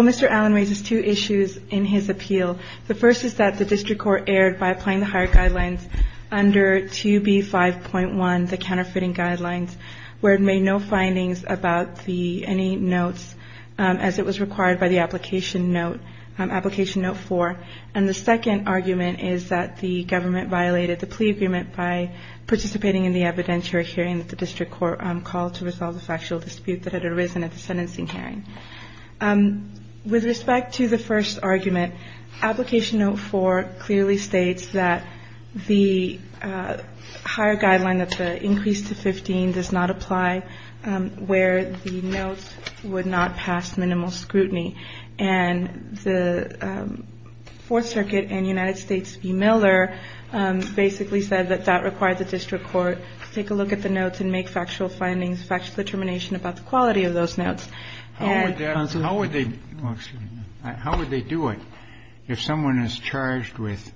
Mr. Allen raises two issues in his appeal. The first is that the district court erred by applying the higher guidelines under 2B5.1, the counterfeiting guidelines, where it made no findings about any notes as it was required by the application note 4. And the second argument is that the government violated the plea agreement by participating in the evidentiary hearing that the district court called to resolve the factual dispute that had arisen at the sentencing hearing. With respect to the first argument, application note 4 clearly states that the higher guideline of the increase to 15 does not apply where the notes would not pass minimal scrutiny. And the Fourth Circuit and United States v. Miller basically said that that required the district court to take a look at the notes and make factual findings, factual determination about the quality of those notes. Kennedy How would they do it if someone is charged with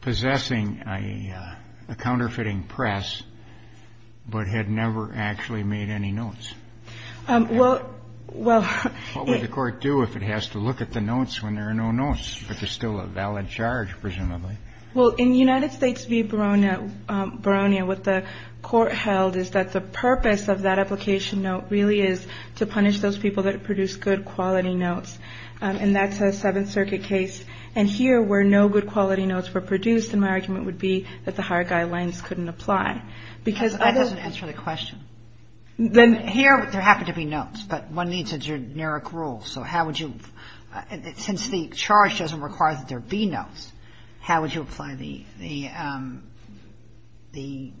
possessing a counterfeiting press, but had never actually made any notes? What would the court do if it has to look at the notes when there are no notes, but there's still a valid charge, presumably? Well, in United States v. Baronia, what the court held is that the purpose of that application note really is to punish those people that produce good quality notes. And that's a Seventh Circuit case. And here, where no good quality notes were produced, my argument would be that the higher guidelines couldn't apply. Because other ---- That doesn't answer the question. Then here, there happen to be notes, but one needs a generic rule. So how would you ---- since the charge doesn't require that there be notes, how would you apply the ---- the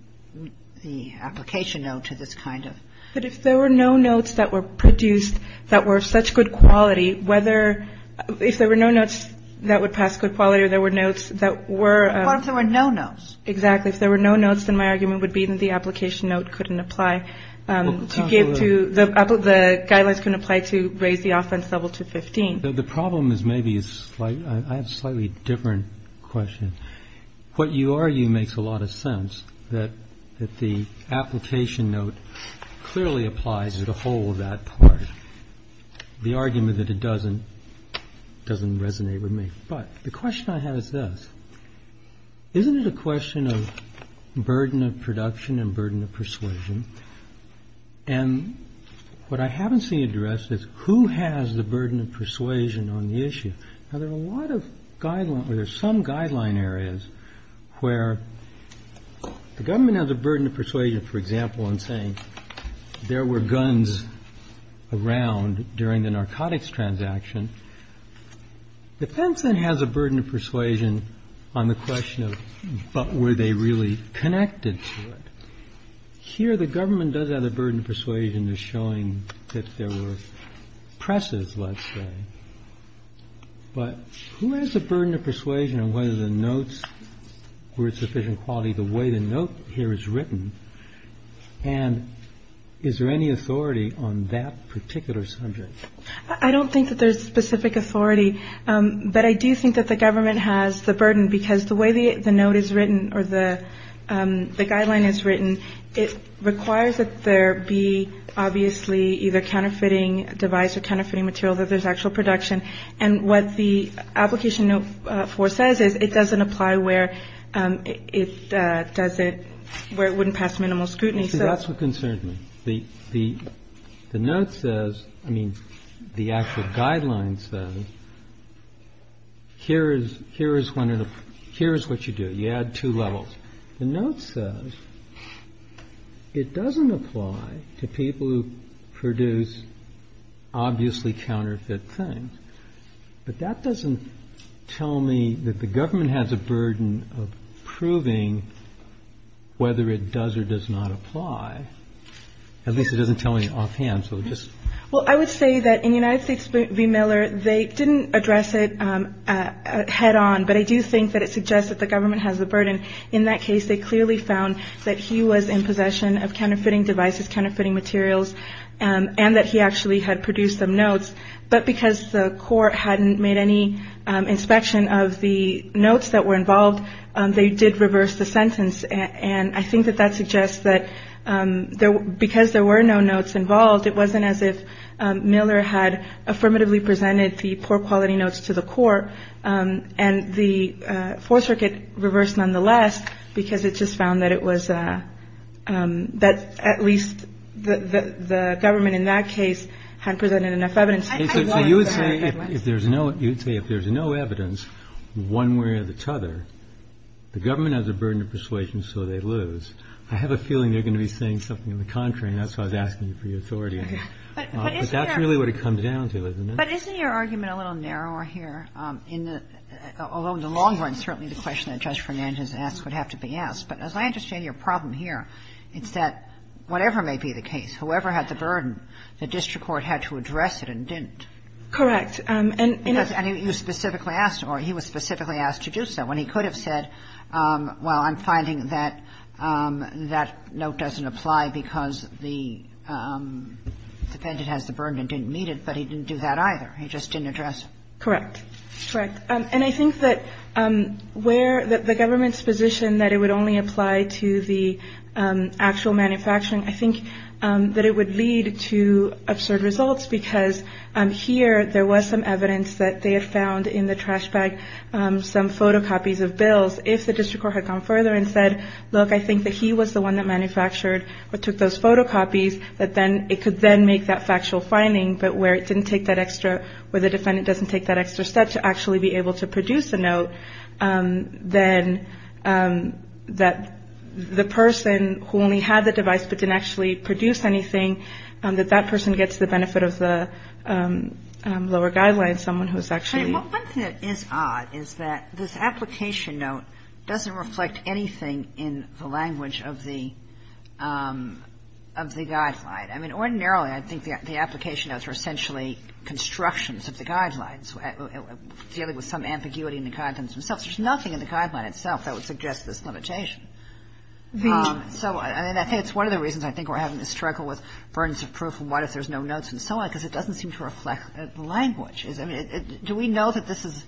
application note to this kind of ---- But if there were no notes that were produced that were of such good quality, whether ---- if there were no notes that would pass good quality or there were notes that were ---- What if there were no notes? Exactly. If there were no notes, then my argument would be that the application note couldn't apply to give to the ---- Well, counsel, the ---- The problem is maybe a slight ---- I have a slightly different question. What you argue makes a lot of sense, that the application note clearly applies to the whole of that part. The argument that it doesn't, doesn't resonate with me. But the question I have is this, isn't it a question of burden of production and burden of persuasion? And what I haven't seen addressed is who has the burden of persuasion on the issue? Now, there are a lot of guidelines or there are some guideline areas where the government has a burden of persuasion, for example, in saying there were guns around during the narcotics transaction. The defense then has a burden of persuasion on the question of but were they really connected to it? Here, the government does have a burden of persuasion in showing that there were presses, let's say. But who has the burden of persuasion on whether the notes were of sufficient quality the way the note here is written? And is there any authority on that particular subject? I don't think that there's specific authority, but I do think that the government has the burden because the way the note is written or the guideline is written, it requires that there be obviously either counterfeiting device or counterfeiting material that there's actual production. And what the application note for says is it doesn't apply where it doesn't, where it wouldn't pass minimal scrutiny. That's what concerned me. The note says, I mean, the actual guidelines says, here is what you do. You add two levels. The note says it doesn't apply to people who produce obviously counterfeit things. But that doesn't tell me that the government has a burden of proving whether it does or does not apply. At least it doesn't tell me offhand. So just. Well, I would say that in the United States v. Miller, they didn't address it head on, but I do think that it suggests that the government has the burden. In that case, they clearly found that he was in possession of counterfeiting devices, counterfeiting materials, and that he actually had produced some notes. But because the court hadn't made any inspection of the notes that were involved, they did reverse the sentence. And I think that that suggests that because there were no notes involved, it wasn't as if Miller had affirmatively presented the poor quality notes to the court. And the Fourth Circuit reversed nonetheless because it just found that it was that at least the government in that case had presented enough evidence. So you would say if there's no, you'd say if there's no evidence one way or the other, the government has a burden of persuasion, so they lose. I have a feeling they're going to be saying something on the contrary, and that's why I was asking you for your authority on it. But that's really what it comes down to, isn't it? But isn't your argument a little narrower here? In the long run, certainly the question that Judge Fernandez asked would have to be asked. But as I understand your problem here, it's that whatever may be the case, whoever had the burden, the district court had to address it and didn't. Correct. And you specifically asked, or he was specifically asked to do so, and he could have said, well, I'm finding that that note doesn't apply because the defendant has the burden and didn't meet it, but he didn't do that either. He just didn't address it. Correct. Correct. And I think that where the government's position that it would only apply to the actual manufacturing, I think that it would lead to absurd results, because here there was some evidence that they had found in the trash bag some photocopies of bills. If the district court had gone further and said, look, I think that he was the one that manufactured or took those photocopies, that then it could then make that factual finding. But where it didn't take that extra, where the defendant doesn't take that extra step to actually be able to produce a note, then that the person who only had the device but didn't actually produce anything, that that person gets the benefit of the lower guidelines, someone who's actually ---- But one thing that is odd is that this application note doesn't reflect anything in the language of the guideline. I mean, ordinarily, I think the application notes are essentially constructions of the guidelines, dealing with some ambiguity in the contents themselves. There's nothing in the guideline itself that would suggest this limitation. So I mean, I think it's one of the reasons I think we're having to struggle with burdens of proof and what if there's no notes and so on, because it doesn't seem to reflect the language. I mean, do we know that this is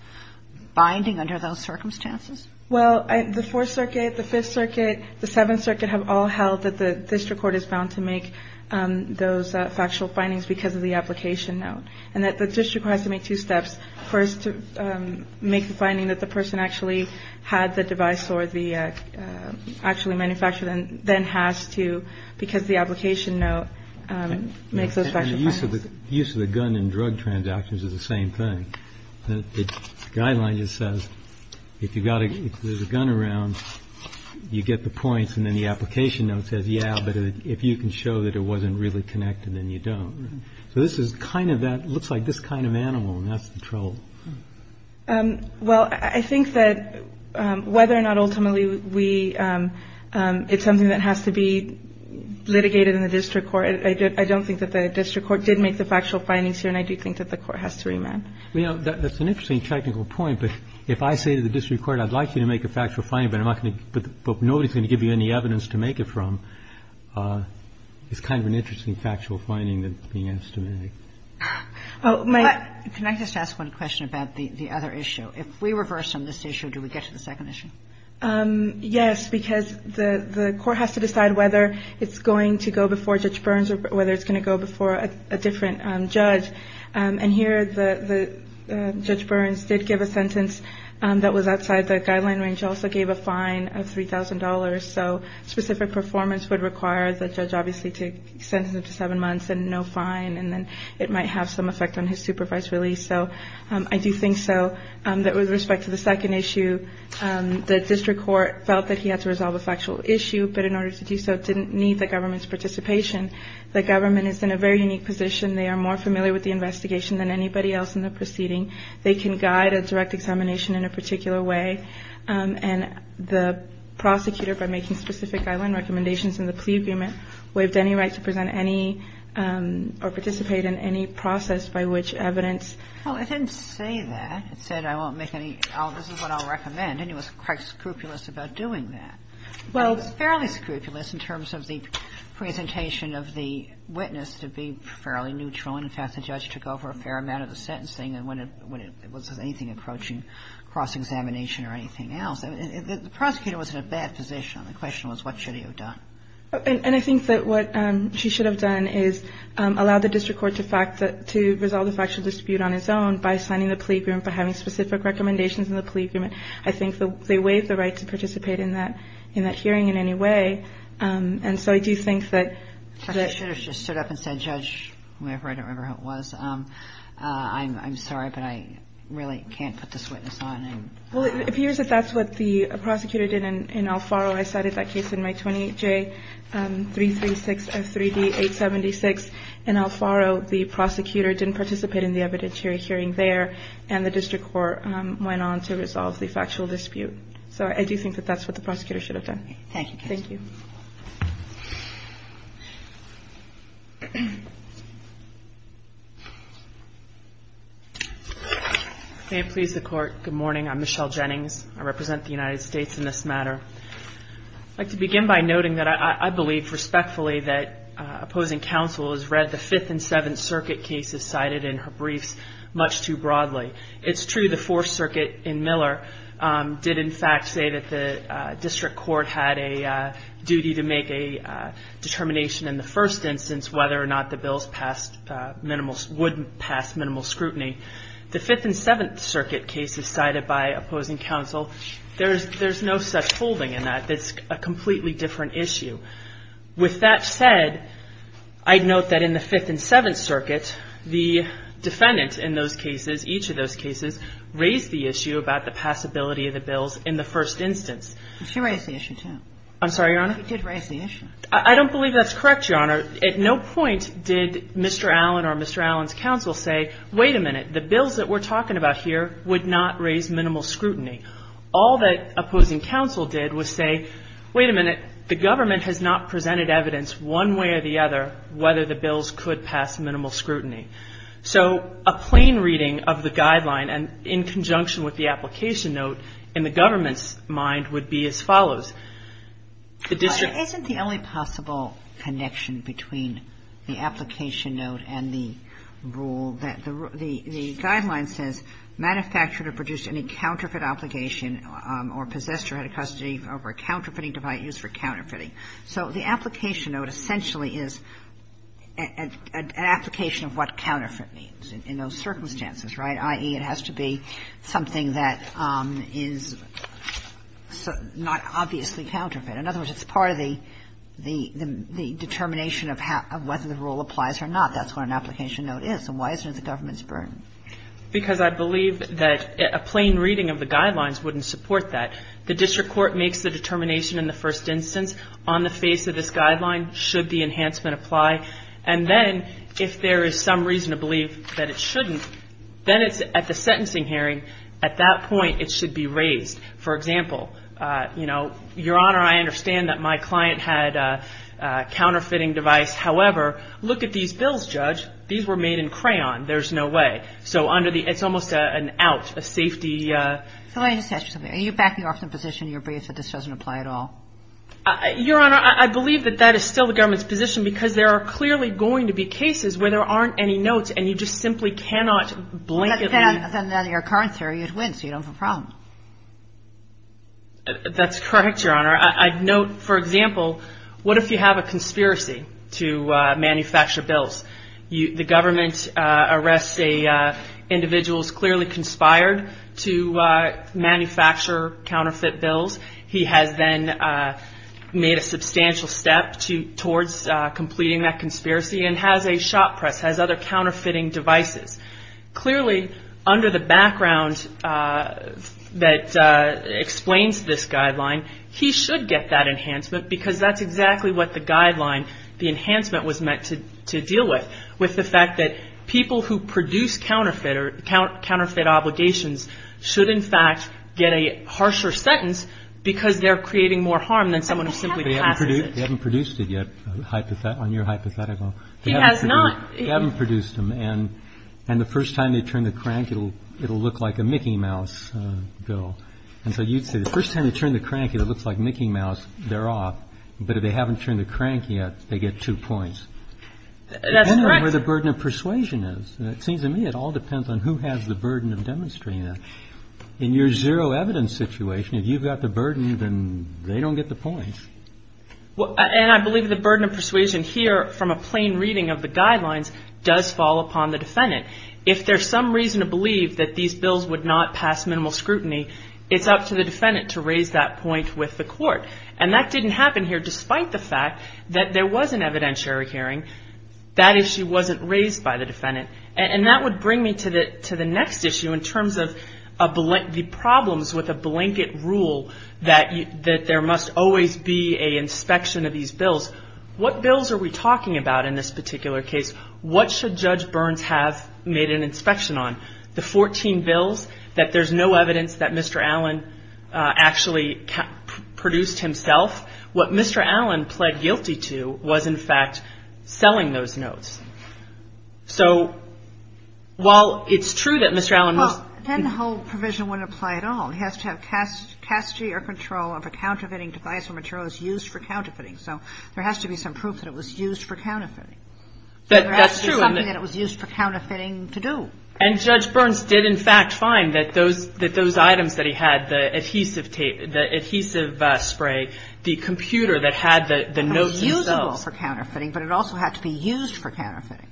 binding under those circumstances? Well, the Fourth Circuit, the Fifth Circuit, the Seventh Circuit have all held that the district court is bound to make those factual findings because of the application note, and that the district court has to make two steps. First, to make the finding that the person actually had the device or the actually manufactured it, and then has to, because the application note makes those factual findings. Use of the gun and drug transactions is the same thing. The guideline just says, if you've got a gun around, you get the points, and then the application note says, yeah, but if you can show that it wasn't really connected, then you don't. So this is kind of that, looks like this kind of animal, and that's the trouble. Well, I think that whether or not ultimately we – it's something that has to be litigated in the district court. I don't think that the district court did make the factual findings here, and I do think that the court has to remand. You know, that's an interesting technical point, but if I say to the district court, I'd like you to make a factual finding, but I'm not going to – but nobody's going to give you any evidence to make it from, it's kind of an interesting factual finding that's being estimated. Oh, Mike, can I just ask one question about the other issue? If we reverse on this issue, do we get to the second issue? Yes, because the court has to decide whether it's going to go before Judge Burns or whether it's going to go before a different judge, and here the – Judge Burns did give a sentence that was outside the guideline range, also gave a fine of $3,000. So specific performance would require the judge obviously to sentence him to seven months and no fine, and then it might have some effect on his supervised release. So I do think so that with respect to the second issue, the district court felt that he had to resolve a factual issue, but in order to do so, it didn't need the government's participation. The government is in a very unique position. They are more familiar with the investigation than anybody else in the proceeding. They can guide a direct examination in a particular way, and the prosecutor, by making specific guideline recommendations in the plea agreement, waived any right to present any – or participate in any process by which evidence – Well, it didn't say that. It said, I won't make any – this is what I'll recommend, and it was quite scrupulous about doing that. Well – It was fairly scrupulous in terms of the presentation of the witness to be fairly neutral, and in fact the judge took over a fair amount of the sentencing when it was anything approaching cross-examination or anything else. The prosecutor was in a bad position. The question was, what should he have done? And I think that what she should have done is allowed the district court to fact – to resolve the factual dispute on its own by signing the plea agreement, by having specific recommendations in the plea agreement. I think they waived the right to participate in that – in that hearing in any way, and so I do think that – Justice Schuder just stood up and said, Judge – I don't remember who it was – I'm sorry, but I really can't put this witness on. Well, it appears that that's what the prosecutor did in Alfaro. I cited that case in my 28J-336 of 3D-876. In Alfaro, the prosecutor didn't participate in the evidentiary hearing there, and the district court went on to resolve the factual dispute. So I do think that that's what the prosecutor should have done. Thank you. Thank you. May it please the Court, good morning, I'm Michelle Jennings, I represent the United I'd like to begin by noting that I believe, respectfully, that opposing counsel has read the Fifth and Seventh Circuit cases cited in her briefs much too broadly. It's true the Fourth Circuit in Miller did, in fact, say that the district court had a duty to make a determination in the first instance whether or not the bills passed minimal – would pass minimal scrutiny. The Fifth and Seventh Circuit cases cited by opposing counsel, there's no such folding in that. It's a completely different issue. With that said, I'd note that in the Fifth and Seventh Circuit, the defendant in those cases, each of those cases, raised the issue about the passability of the bills in the first instance. She raised the issue, too. I'm sorry, Your Honor? She did raise the issue. I don't believe that's correct, Your Honor. At no point did Mr. Allen or Mr. Allen's counsel say, wait a minute, the bills that we're talking about here would not raise minimal scrutiny. All that opposing counsel did was say, wait a minute, the government has not presented evidence one way or the other whether the bills could pass minimal scrutiny. So a plain reading of the guideline in conjunction with the application note in the government's mind would be as follows. The district – But isn't the only possible connection between the application note and the rule that the – the guideline says, Manufacturer produced any counterfeit obligation or possessed or had a custody over a counterfeiting device used for counterfeiting. So the application note essentially is an application of what counterfeit means in those circumstances, right? I.e., it has to be something that is not obviously counterfeit. In other words, it's part of the determination of whether the rule applies or not. That's what an application note is. And why is it in the government's burden? Because I believe that a plain reading of the guidelines wouldn't support that. The district court makes the determination in the first instance on the face of this guideline should the enhancement apply. And then if there is some reason to believe that it shouldn't, then it's at the sentencing hearing, at that point it should be raised. For example, you know, Your Honor, I understand that my client had a counterfeiting device. However, look at these bills, Judge. These were made in crayon. There's no way. So under the – it's almost an out, a safety – So let me just ask you something. Are you backing off the position in your brief that this doesn't apply at all? Your Honor, I believe that that is still the government's position because there are clearly going to be cases where there aren't any notes and you just simply cannot blanketly – But then under your current theory, you'd win, so you don't have a problem. That's correct, Your Honor. I note, for example, what if you have a conspiracy to manufacture bills? The government arrests an individual who's clearly conspired to manufacture counterfeit bills. He has then made a substantial step towards completing that conspiracy and has a shop press, has other counterfeiting devices. Clearly under the background that explains this guideline, he should get that enhancement because that's exactly what the guideline, the enhancement was meant to deal with, with the fact that people who produce counterfeit or counterfeit obligations should, in fact, get a harsher sentence because they're creating more harm than someone who simply passes it. They haven't produced it yet, on your hypothetical. He has not. They haven't produced them. And the first time they turn the crank, it'll look like a Mickey Mouse bill. And so you'd say the first time they turn the crank and it looks like Mickey Mouse, they're off. But if they haven't turned the crank yet, they get two points. That's correct. Depending on where the burden of persuasion is. It seems to me it all depends on who has the burden of demonstrating that. In your zero evidence situation, if you've got the burden, then they don't get the points. And I believe the burden of persuasion here from a plain reading of the guidelines does fall upon the defendant. If there's some reason to believe that these bills would not pass minimal scrutiny, it's up to the defendant to raise that point with the court. And that didn't happen here despite the fact that there was an evidentiary hearing. That issue wasn't raised by the defendant. And that would bring me to the next issue in terms of the problems with a blanket rule that there must always be an inspection of these bills. What bills are we talking about in this particular case? What should Judge Burns have made an inspection on? The 14 bills that there's no evidence that Mr. Allen actually produced himself. What Mr. Allen pled guilty to was in fact selling those notes. So while it's true that Mr. Allen was... Well, then the whole provision wouldn't apply at all. He has to have custody or control of a counterfeiting device or material that's used for counterfeiting. So there has to be some proof that it was used for counterfeiting. That's true. That there has to be something that it was used for counterfeiting to do. And Judge Burns did in fact find that those items that he had, the adhesive tape, the adhesive spray, the computer that had the notes themselves... It was usable for counterfeiting, but it also had to be used for counterfeiting.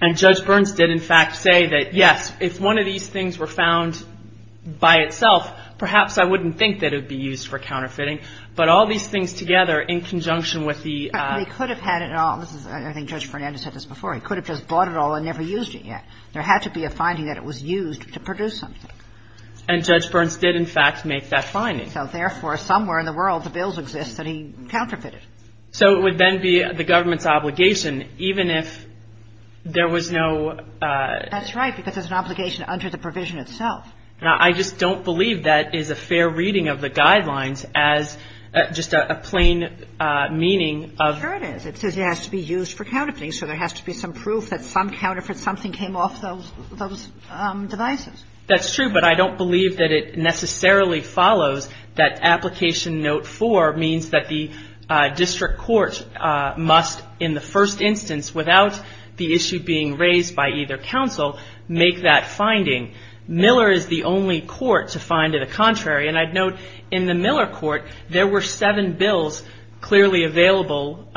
And Judge Burns did in fact say that, yes, if one of these things were found by itself, perhaps I wouldn't think that it would be used for counterfeiting. But all these things together in conjunction with the... They could have had it all. I think Judge Fernandez said this before. He could have just bought it all and never used it yet. There had to be a finding that it was used to produce something. And Judge Burns did in fact make that finding. So therefore, somewhere in the world, the bills exist that he counterfeited. So it would then be the government's obligation, even if there was no... That's right, because there's an obligation under the provision itself. Now, I just don't believe that is a fair reading of the guidelines as just a plain meaning of... Sure it is. It says it has to be used for counterfeiting. So there has to be some proof that some counterfeit, something came off those devices. That's true, but I don't believe that it necessarily follows that application note four means that the district court must, in the first instance, without the issue being raised by either counsel, make that finding. Miller is the only court to find it a contrary. And I'd note, in the Miller court, there were seven bills clearly available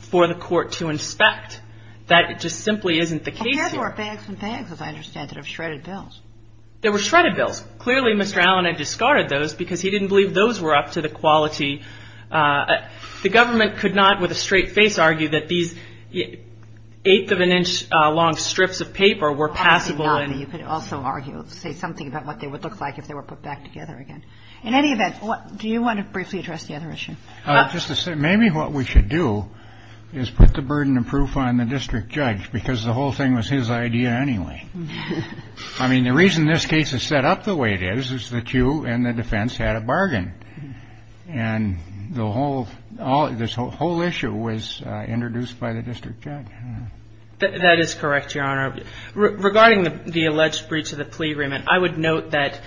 for the court to inspect. That just simply isn't the case here. Compared to our bags and bags, as I understand it, of shredded bills. There were shredded bills. Clearly, Mr. Allen had discarded those because he didn't believe those were up to the quality... The government could not, with a straight face, argue that these eighth of an inch long strips of paper were passable and... In any event, do you want to briefly address the other issue? Just to say, maybe what we should do is put the burden of proof on the district judge because the whole thing was his idea anyway. I mean, the reason this case is set up the way it is, is that you and the defense had a bargain. And this whole issue was introduced by the district judge. That is correct, Your Honor. Regarding the alleged breach of the plea agreement, I would note that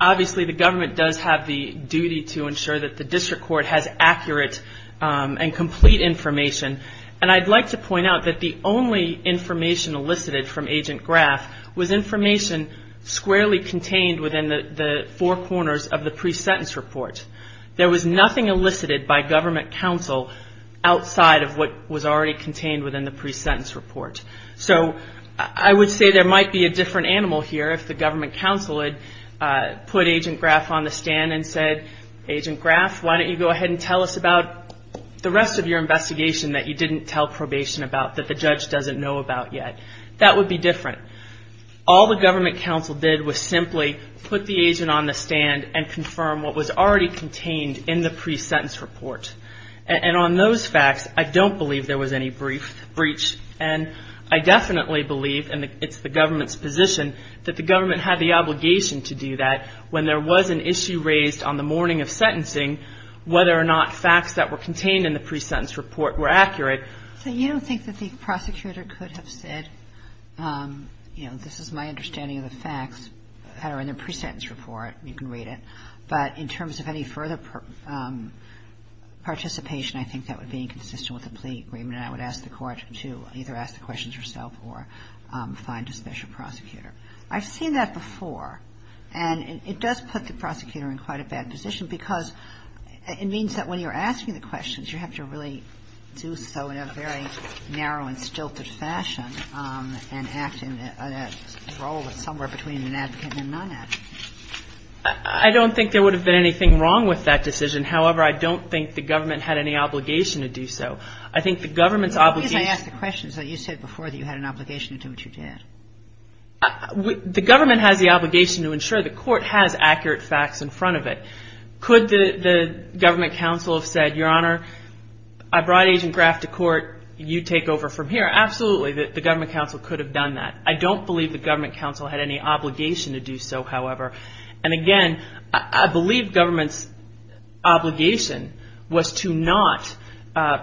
obviously the government does have the duty to ensure that the district court has accurate and complete information. And I'd like to point out that the only information elicited from Agent Graff was information squarely contained within the four corners of the pre-sentence report. There was nothing elicited by government counsel outside of what was already contained within the pre-sentence report. So I would say there might be a different animal here if the government counsel had put Agent Graff on the stand and said, Agent Graff, why don't you go ahead and tell us about the rest of your investigation that you didn't tell probation about, that the judge doesn't know about yet. That would be different. All the government counsel did was simply put the agent on the stand and confirm what was already contained in the pre-sentence report. And on those facts, I don't believe there was any breach. And I definitely believe, and it's the government's position, that the government had the obligation to do that when there was an issue raised on the morning of sentencing, whether or not facts that were contained in the pre-sentence report were accurate. So you don't think that the prosecutor could have said, you know, this is my understanding of the facts that are in the pre-sentence report. You can read it. But in terms of any further participation, I think that would be inconsistent with the plea agreement. And I would ask the court to either ask the questions herself or find a special prosecutor. I've seen that before. And it does put the prosecutor in quite a bad position because it means that when you're asking the questions, you have to really do so in a very narrow and stilted fashion and act in a role that's somewhere between an advocate and a non-advocate. I don't think there would have been anything wrong with that decision. However, I don't think the government had any obligation to do so. I think the government's obligation... I guess I asked the questions that you said before that you had an obligation to do what you did. The government has the obligation to ensure the court has accurate facts in front of it. Could the government counsel have said, Your Honor, I brought Agent Graff to court. You take over from here. Absolutely, the government counsel could have done that. I don't believe the government counsel had any obligation to do so, however. And again, I believe government's obligation was to not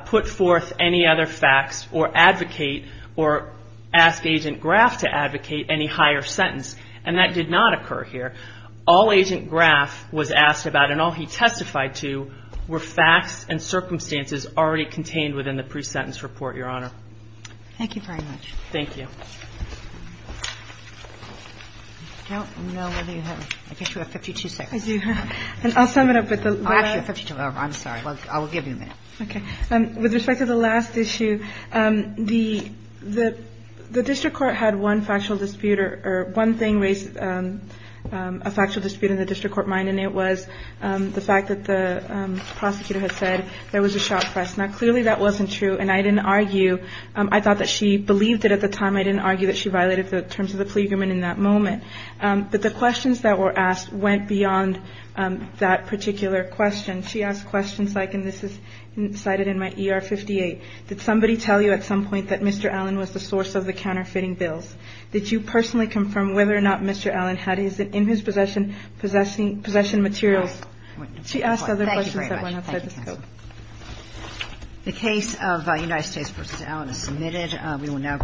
put forth any other facts or advocate or ask Agent Graff to advocate any higher sentence. And that did not occur here. All Agent Graff was asked about and all he testified to were facts and circumstances already contained within the pre-sentence report, Your Honor. Thank you very much. Thank you. I don't know whether you have... I guess you have 52 seconds. I do have... And I'll sum it up with the... Actually, 52, I'm sorry, I will give you a minute. Okay, with respect to the last issue, the district court had one factual dispute or one thing raised a factual dispute in the district court mind and it was the fact that the prosecutor had said there was a shot press. Now, clearly that wasn't true and I didn't argue. I thought that she believed it at the time. I didn't argue that she violated the terms of the plea agreement in that moment. But the questions that were asked went beyond that particular question. She asked questions like, and this is cited in my ER 58, did somebody tell you at some point that Mr. Allen was the source of the counterfeiting bills? Did you personally confirm whether or not Mr. Allen had his in his possession materials? She asked other questions that went outside the scope. The case of United States v. Allen is submitted. We will now...